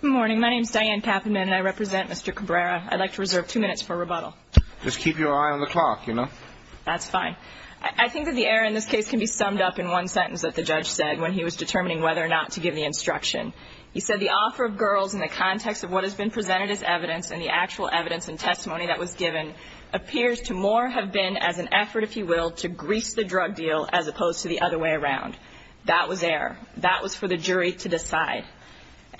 Good morning, my name is Diane Kaffenman and I represent Mr. Cabrera. I'd like to reserve two minutes for rebuttal. Just keep your eye on the clock, you know. That's fine. I think that the error in this case can be summed up in one sentence that the judge said when he was determining whether or not to give the instruction. He said the offer of girls in the context of what has been presented as evidence and the actual evidence and testimony that was given appears to more have been as an effort, if you will, to grease the drug deal as opposed to the other way around. That was error. That was for the jury to decide.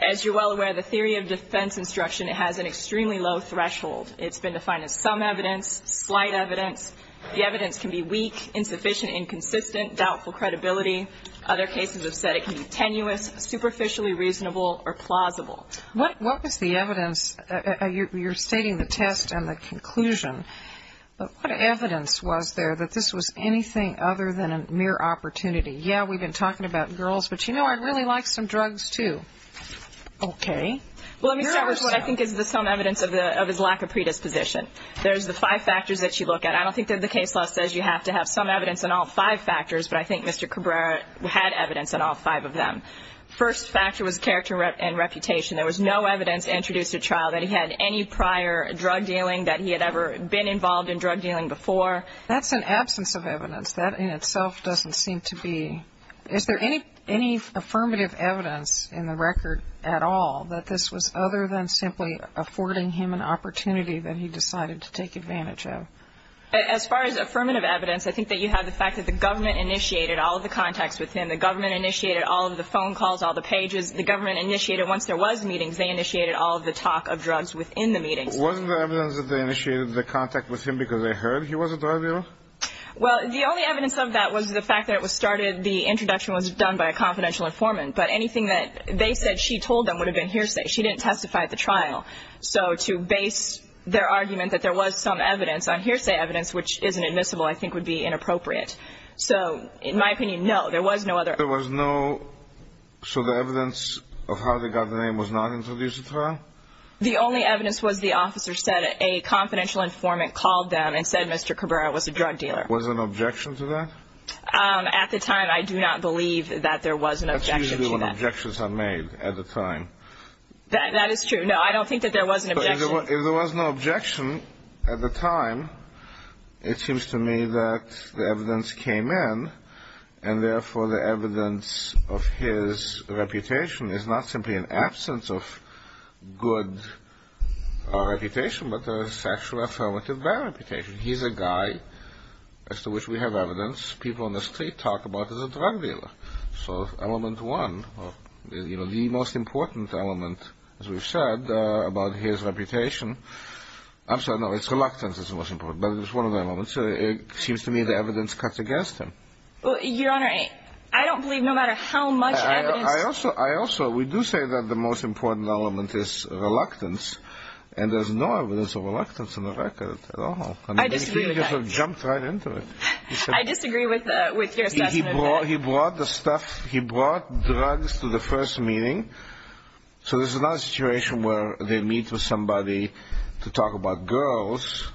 As you're well aware, the theory of defense instruction has an extremely low threshold. It's been defined as some evidence, slight evidence. The evidence can be weak, insufficient, inconsistent, doubtful credibility. Other cases have said it can be tenuous, superficially reasonable, or plausible. What was the evidence? You're stating the test and the conclusion. But what evidence was there that this was anything other than a mere opportunity? Yeah, we've been talking about girls, but you know, I'd really like some drugs, too. Okay. Well, let me start with what I think is the sum evidence of his lack of predisposition. There's the five factors that you look at. I don't think that the case law says you have to have sum evidence on all five factors, but I think Mr. Cabrera had evidence on all five of them. First factor was character and reputation. There was no evidence introduced at trial that he had any prior drug dealing, that he had ever been involved in drug dealing before. That's an absence of evidence. That in itself doesn't seem to be ñ is there any affirmative evidence in the record at all that this was other than simply affording him an opportunity that he decided to take advantage of? As far as affirmative evidence, I think that you have the fact that the government initiated all of the contacts with him. The government initiated all of the phone calls, all the pages. The government initiated, once there was meetings, they initiated all of the talk of drugs within the meetings. Wasn't the evidence that they initiated the contact with him because they heard he was a drug dealer? Well, the only evidence of that was the fact that it was started, the introduction was done by a confidential informant. But anything that they said she told them would have been hearsay. She didn't testify at the trial. So to base their argument that there was some evidence on hearsay evidence, which isn't admissible, I think would be inappropriate. So in my opinion, no, there was no other. There was no ñ so the evidence of how they got the name was not introduced at trial? The only evidence was the officer said a confidential informant called them and said Mr. Cabrera was a drug dealer. Was an objection to that? At the time, I do not believe that there was an objection to that. That's usually when objections are made at the time. That is true. No, I don't think that there was an objection. If there was no objection at the time, it seems to me that the evidence came in, and therefore the evidence of his reputation is not simply an absence of good reputation, but a sexual affirmative bad reputation. He's a guy as to which we have evidence. People on the street talk about him as a drug dealer. So element one, the most important element, as we've said, about his reputation, I'm sorry, no, it's reluctance that's the most important, but it was one of the elements. It seems to me the evidence cuts against him. Your Honor, I don't believe no matter how much evidence... I also, we do say that the most important element is reluctance, and there's no evidence of reluctance in the record at all. I disagree with that. I disagree with your assessment of that. He brought drugs to the first meeting. So this is not a situation where they meet with somebody to talk about girls,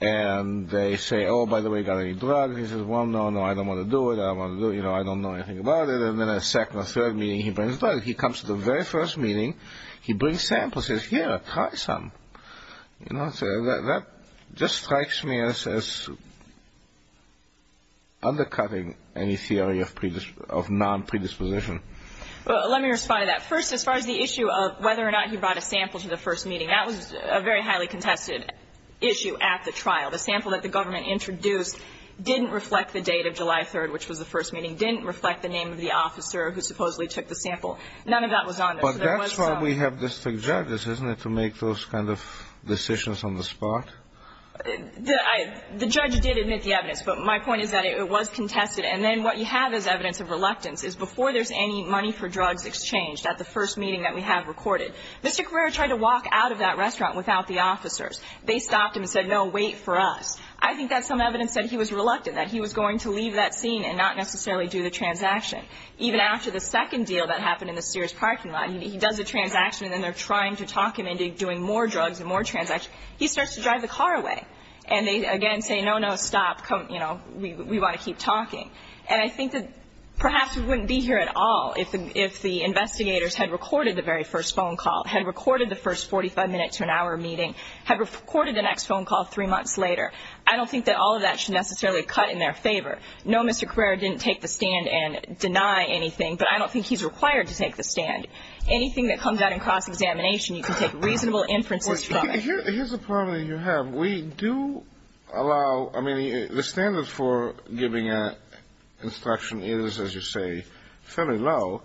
and they say, oh, by the way, got any drugs? He says, well, no, no, I don't want to do it. You know, I don't know anything about it. And then a second or third meeting he brings drugs. He comes to the very first meeting. He brings samples. He says, here, try some. You know, that just strikes me as undercutting any theory of non-predisposition. Well, let me respond to that. First, as far as the issue of whether or not he brought a sample to the first meeting, that was a very highly contested issue at the trial. The sample that the government introduced didn't reflect the date of July 3rd, which was the first meeting, didn't reflect the name of the officer who supposedly took the sample. None of that was on there. So there was no ---- But that's why we have district judges, isn't it, to make those kind of decisions on the spot? The judge did admit the evidence, but my point is that it was contested. And then what you have is evidence of reluctance is before there's any money for drugs exchanged at the first meeting that we have recorded. Mr. Carrera tried to walk out of that restaurant without the officers. They stopped him and said, no, wait for us. I think that's some evidence that he was reluctant, that he was going to leave that scene and not necessarily do the transaction. Even after the second deal that happened in the Sears parking lot, he does the transaction and then they're trying to talk him into doing more drugs and more transactions. He starts to drive the car away. And they, again, say, no, no, stop, you know, we want to keep talking. And I think that perhaps we wouldn't be here at all if the investigators had recorded the very first phone call, had recorded the first 45-minute to an hour meeting, had recorded the next phone call three months later. I don't think that all of that should necessarily cut in their favor. No, Mr. Carrera didn't take the stand and deny anything, but I don't think he's required to take the stand. Anything that comes out in cross-examination, you can take reasonable inferences from it. Here's a problem that you have. We do allow, I mean, the standards for giving an instruction is, as you say, fairly low.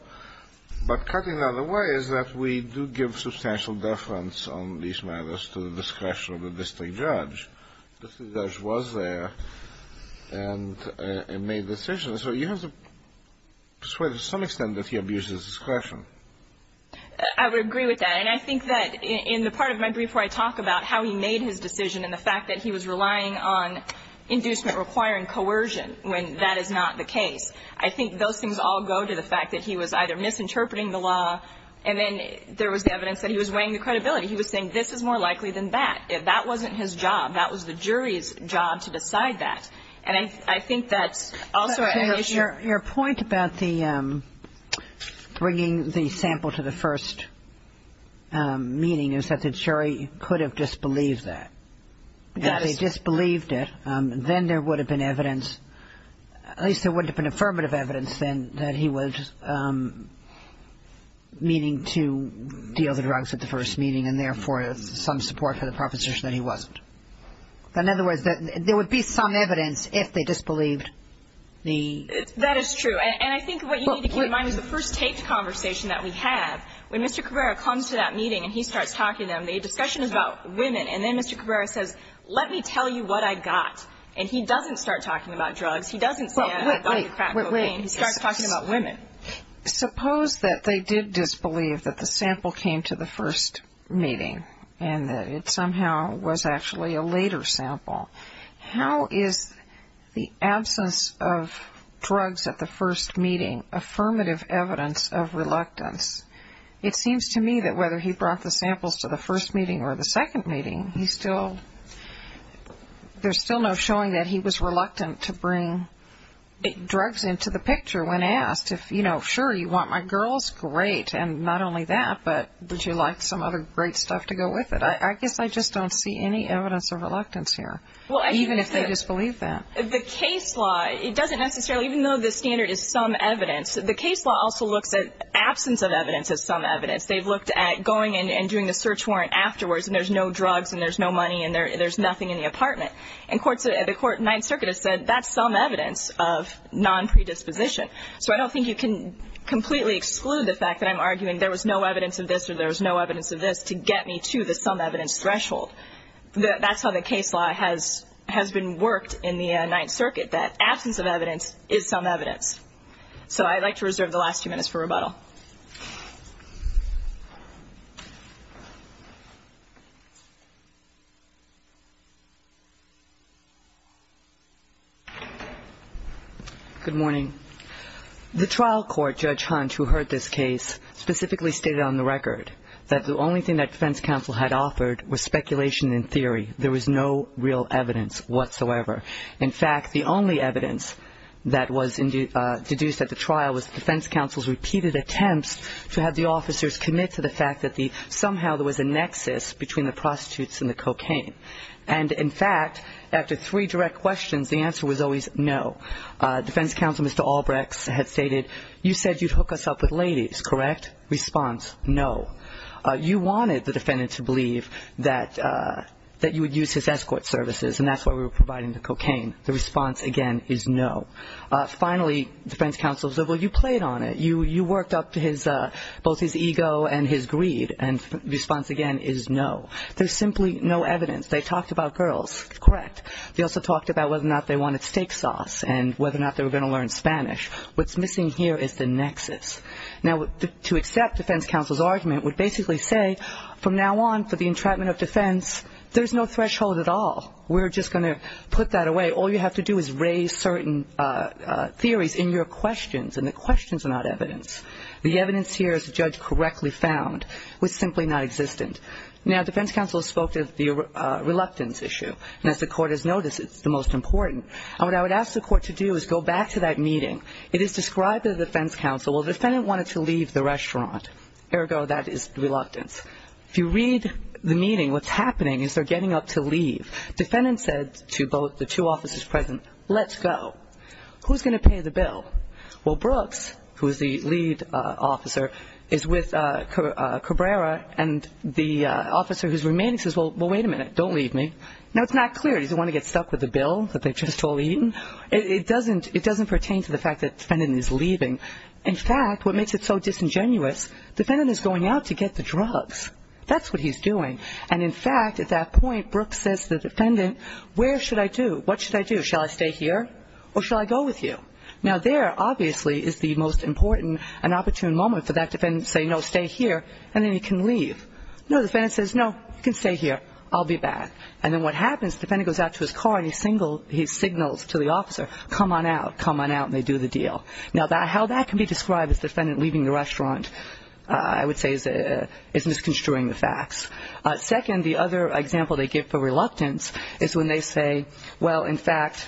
But cutting it out of the way is that we do give substantial deference on these matters to the discretion of the district judge. The district judge was there and made the decision. So you have to persuade to some extent that he abuses discretion. I would agree with that. And I think that in the part of my brief where I talk about how he made his decision and the fact that he was relying on inducement requiring coercion when that is not the case. I think those things all go to the fact that he was either misinterpreting the law and then there was evidence that he was weighing the credibility. He was saying this is more likely than that. That wasn't his job. That was the jury's job to decide that. And I think that's also an issue. Your point about the bringing the sample to the first meeting is that the jury could have disbelieved that. Yes. If they disbelieved it, then there would have been evidence, at least there would have been some affirmative evidence then that he was meaning to deal the drugs at the first meeting and therefore some support for the proposition that he wasn't. In other words, there would be some evidence if they disbelieved the ---- That is true. And I think what you need to keep in mind is the first taped conversation that we have, when Mr. Cabrera comes to that meeting and he starts talking to them, the discussion is about women. And then Mr. Cabrera says, let me tell you what I got. And he doesn't start talking about drugs. He doesn't say I got crack cocaine. He starts talking about women. Suppose that they did disbelieve that the sample came to the first meeting and that it somehow was actually a later sample. How is the absence of drugs at the first meeting affirmative evidence of reluctance? It seems to me that whether he brought the samples to the first meeting or the second meeting, he still ---- There's still no showing that he was reluctant to bring drugs into the picture when asked. If, you know, sure, you want my girls, great, and not only that, but would you like some other great stuff to go with it? I guess I just don't see any evidence of reluctance here, even if they disbelieved that. The case law, it doesn't necessarily, even though the standard is some evidence, the case law also looks at absence of evidence as some evidence. They've looked at going and doing the search warrant afterwards, and there's no drugs and there's no money and there's nothing in the apartment. And the Ninth Circuit has said that's some evidence of non-predisposition. So I don't think you can completely exclude the fact that I'm arguing there was no evidence of this or there was no evidence of this to get me to the some evidence threshold. That's how the case law has been worked in the Ninth Circuit, that absence of evidence is some evidence. So I'd like to reserve the last few minutes for rebuttal. Good morning. The trial court, Judge Hunt, who heard this case, specifically stated on the record that the only thing that defense counsel had offered was speculation and theory. There was no real evidence whatsoever. In fact, the only evidence that was deduced at the trial was defense counsel's repeated attempts to have the officers commit to the fact that somehow there was a nexus between the prostitutes and the cocaine. And, in fact, after three direct questions, the answer was always no. Defense counsel, Mr. Albrechts, had stated, you said you'd hook us up with ladies, correct? Response, no. You wanted the defendant to believe that you would use his escort services, and that's why we were providing the cocaine. The response, again, is no. Finally, defense counsel said, well, you played on it. You worked up both his ego and his greed, and the response, again, is no. There's simply no evidence. They talked about girls, correct. They also talked about whether or not they wanted steak sauce and whether or not they were going to learn Spanish. What's missing here is the nexus. Now, to accept defense counsel's argument would basically say, from now on for the entrapment of defense, there's no threshold at all. We're just going to put that away. All you have to do is raise certain theories in your questions, and the questions are not evidence. The evidence here, as the judge correctly found, was simply not existent. Now, defense counsel spoke of the reluctance issue, and as the court has noticed, it's the most important. And what I would ask the court to do is go back to that meeting. It is described to the defense counsel, well, the defendant wanted to leave the restaurant. Ergo, that is reluctance. If you read the meeting, what's happening is they're getting up to leave. Defendant said to both the two officers present, let's go. Who's going to pay the bill? Well, Brooks, who is the lead officer, is with Cabrera, and the officer who's remaining says, well, wait a minute, don't leave me. Now, it's not clear. Does he want to get stuck with the bill that they've just all eaten? It doesn't pertain to the fact that defendant is leaving. In fact, what makes it so disingenuous, defendant is going out to get the drugs. That's what he's doing. And, in fact, at that point, Brooks says to the defendant, where should I do? What should I do? Shall I stay here or shall I go with you? Now, there, obviously, is the most important and opportune moment for that defendant to say, no, stay here, and then he can leave. No, the defendant says, no, you can stay here. I'll be back. And then what happens, the defendant goes out to his car and he signals to the officer, come on out, come on out, and they do the deal. Now, how that can be described as defendant leaving the restaurant, I would say, is misconstruing the facts. Second, the other example they give for reluctance is when they say, well, in fact,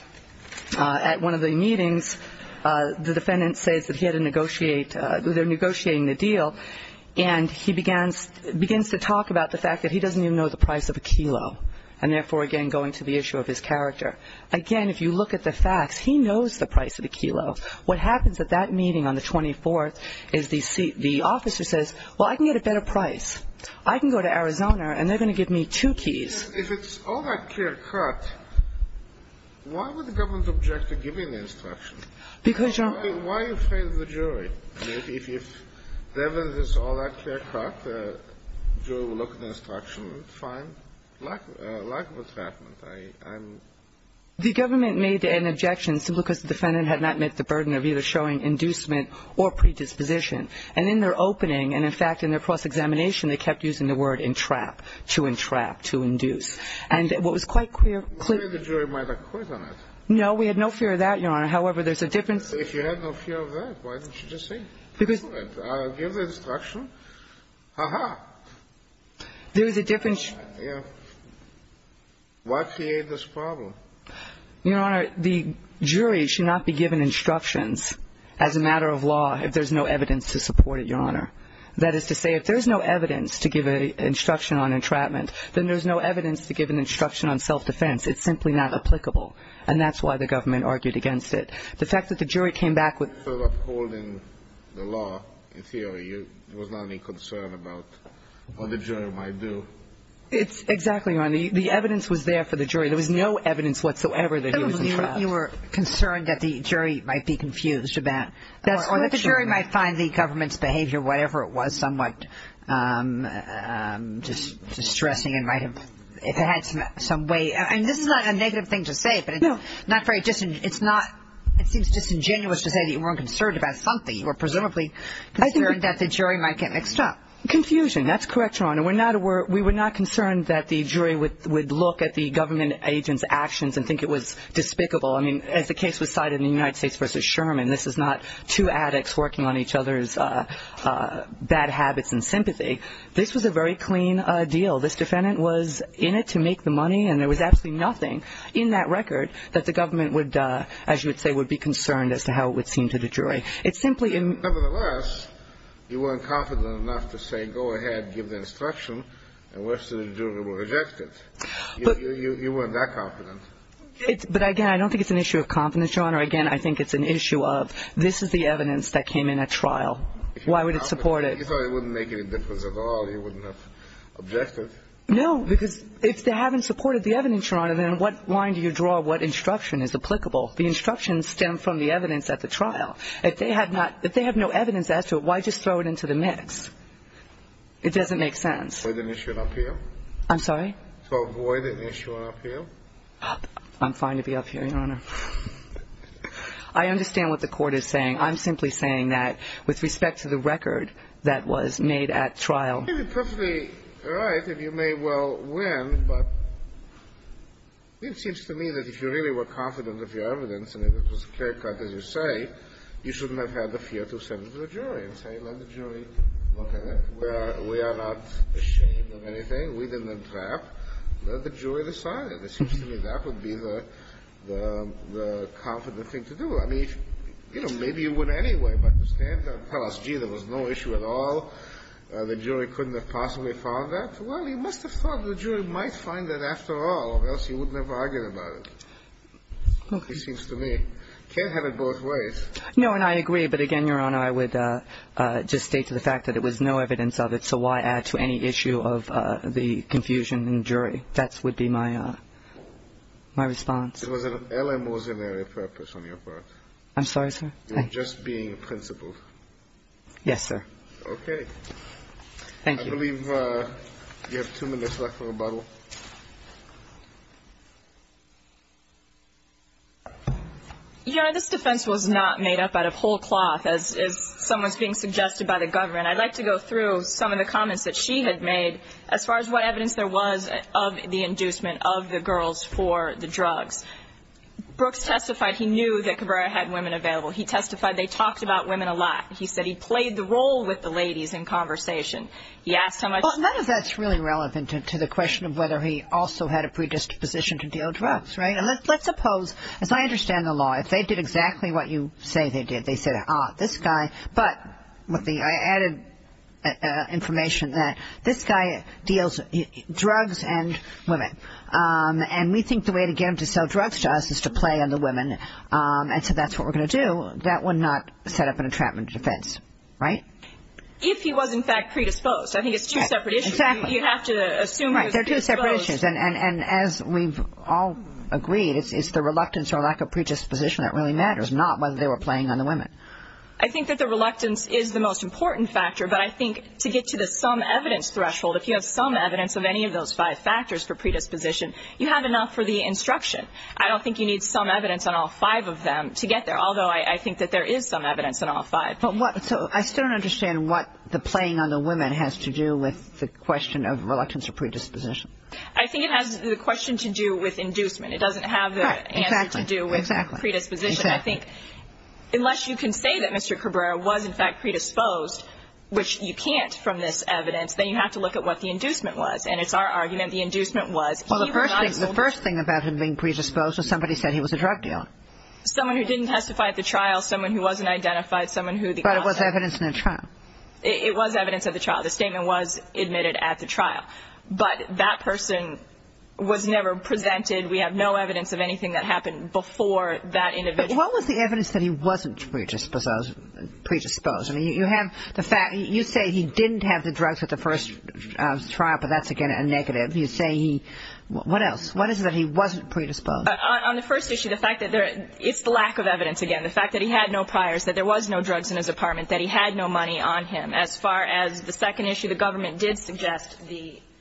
at one of the meetings, the defendant says that he had to negotiate, they're negotiating the deal, and he begins to talk about the fact that he doesn't even know the price of a kilo, and therefore, again, going to the issue of his character. Again, if you look at the facts, he knows the price of a kilo. What happens at that meeting on the 24th is the officer says, well, I can get a better price. I can go to Arizona and they're going to give me two keys. If it's all that clear-cut, why would the government object to giving the instruction? Because you're not going to do it. Why are you afraid of the jury? I mean, if the evidence is all that clear-cut, the jury will look at the instruction, fine. Lack of attachment. The government made an objection simply because the defendant had not met the burden of either showing inducement or predisposition. And in their opening and, in fact, in their cross-examination, they kept using the word entrap, to entrap, to induce. And what was quite clear-cut. No, we had no fear of that, Your Honor. However, there's a difference. If you had no fear of that, why didn't you just say, I'll give the instruction? Ha-ha. There is a difference. Why create this problem? Your Honor, the jury should not be given instructions as a matter of law if there's no evidence to support it, Your Honor. That is to say, if there's no evidence to give an instruction on entrapment, then there's no evidence to give an instruction on self-defense. It's simply not applicable. And that's why the government argued against it. The fact that the jury came back with the law in theory, there was not any concern about what the jury might do. It's exactly right. The evidence was there for the jury. There was no evidence whatsoever that he was entrapped. You were concerned that the jury might be confused about- That's correct, Your Honor. Or that the jury might find the government's behavior, whatever it was, somewhat distressing and might have, if it had some weight. And this is not a negative thing to say, but it's not very disingenuous to say that you weren't concerned about something. You were presumably concerned that the jury might get mixed up. Confusion. That's correct, Your Honor. We were not concerned that the jury would look at the government agent's actions and think it was despicable. I mean, as the case was cited in the United States v. Sherman, this is not two addicts working on each other's bad habits and sympathy. This was a very clean deal. This defendant was in it to make the money, and there was absolutely nothing in that record that the government would, as you would say, would be concerned as to how it would seem to the jury. It simply- Nevertheless, you weren't confident enough to say, go ahead, give the instruction, and wish that the jury would reject it. You weren't that confident. But, again, I don't think it's an issue of confidence, Your Honor. Again, I think it's an issue of this is the evidence that came in at trial. Why would it support it? You thought it wouldn't make any difference at all. You wouldn't have objected. No, because if they haven't supported the evidence, Your Honor, then what line do you draw? What instruction is applicable? The instructions stem from the evidence at the trial. If they have not – if they have no evidence as to it, why just throw it into the mix? It doesn't make sense. To avoid an issue at appeal? I'm sorry? To avoid an issue at appeal? I'm fine to be up here, Your Honor. I understand what the Court is saying. I'm simply saying that with respect to the record that was made at trial- You'd be perfectly right if you may well win, but it seems to me that if you really were shouldn't have had the fear to send it to the jury and say, let the jury look at it. We are not ashamed of anything. We didn't entrap. Let the jury decide it. It seems to me that would be the confident thing to do. I mean, you know, maybe you would anyway, but to stand there and tell us, gee, there was no issue at all, the jury couldn't have possibly found that, well, you must have thought the jury might find that after all, or else you wouldn't have argued about Okay. it seems to me. You can't have it both ways. No, and I agree, but again, Your Honor, I would just state to the fact that it was no evidence of it, so why add to any issue of the confusion in the jury? That would be my response. It was an eleemosynary purpose on your part. I'm sorry, sir? You were just being principled. Yes, sir. Okay. Thank you. I believe you have two minutes left for rebuttal. Your Honor, this defense was not made up out of whole cloth, as someone's being suggested by the government. I'd like to go through some of the comments that she had made as far as what evidence there was of the inducement of the girls for the drugs. Brooks testified he knew that Cabrera had women available. He testified they talked about women a lot. He said he played the role with the ladies in conversation. He asked how much Well, none of that's really relevant to the question of whether he also had a predisposition to deal drugs, right? Let's suppose, as I understand the law, if they did exactly what you say they did, they said, ah, this guy, but with the added information that this guy deals drugs and women, and we think the way to get him to sell drugs to us is to play on the women, and so that's what we're going to do. That would not set up an entrapment defense, right? If he was, in fact, predisposed. I think it's two separate issues. Exactly. You have to assume he was predisposed. Right, they're two separate issues. And as we've all agreed, it's the reluctance or lack of predisposition that really matters, not whether they were playing on the women. I think that the reluctance is the most important factor, but I think to get to the some evidence threshold, if you have some evidence of any of those five factors for predisposition, you have enough for the instruction. I don't think you need some evidence on all five of them to get there, although I think that there is some evidence on all five. So I still don't understand what the playing on the women has to do with the question of reluctance or predisposition. I think it has the question to do with inducement. It doesn't have the answer to do with predisposition. Exactly. I think unless you can say that Mr. Cabrera was, in fact, predisposed, which you can't from this evidence, then you have to look at what the inducement was. And it's our argument the inducement was he was not a soldier. Well, the first thing about him being predisposed was somebody said he was a drug dealer. Someone who didn't testify at the trial, someone who wasn't identified, someone who the officer – But it was evidence in the trial. It was evidence at the trial. The statement was admitted at the trial. But that person was never presented. We have no evidence of anything that happened before that individual. But what was the evidence that he wasn't predisposed? I mean, you have the fact – you say he didn't have the drugs at the first trial, but that's, again, a negative. You say he – what else? What is it that he wasn't predisposed? On the first issue, the fact that there – it's the lack of evidence again. The fact that he had no priors, that there was no drugs in his apartment, that he had no money on him. As far as the second issue, the government did suggest the –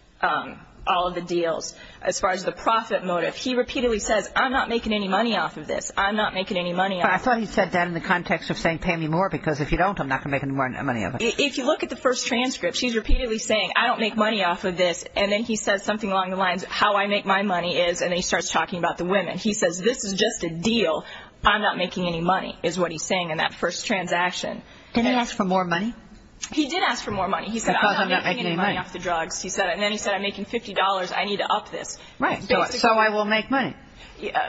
all of the deals. As far as the profit motive, he repeatedly says, I'm not making any money off of this. I'm not making any money off of this. I thought he said that in the context of saying, pay me more, because if you don't, I'm not going to make any money off of it. If you look at the first transcript, she's repeatedly saying, I don't make money off of this. And then he says something along the lines of, how I make my money is, and then he starts talking about the women. He says, this is just a deal. I'm not making any money, is what he's saying in that first transaction. Did he ask for more money? He did ask for more money. He said, I'm not making any money off the drugs. And then he said, I'm making $50. I need to up this. Right. So I will make money.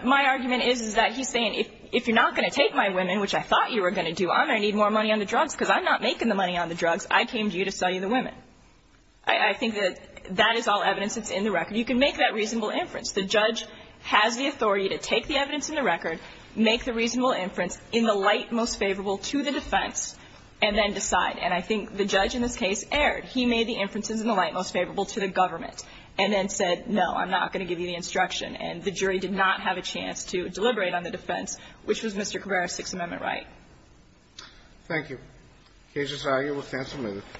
My argument is, is that he's saying, if you're not going to take my women, which I thought you were going to do, I'm going to need more money on the drugs, because I'm not making the money on the drugs. I came to you to sell you the women. I think that that is all evidence that's in the record. You can make that reasonable inference. The judge has the authority to take the evidence in the record, make the reasonable inference in the light most favorable to the defense, and then decide. And I think the judge in this case erred. He made the inferences in the light most favorable to the government, and then said, no, I'm not going to give you the instruction. And the jury did not have a chance to deliberate on the defense, which was Mr. Cabrera's Sixth Amendment right. Thank you. Cases argued. We'll cancel.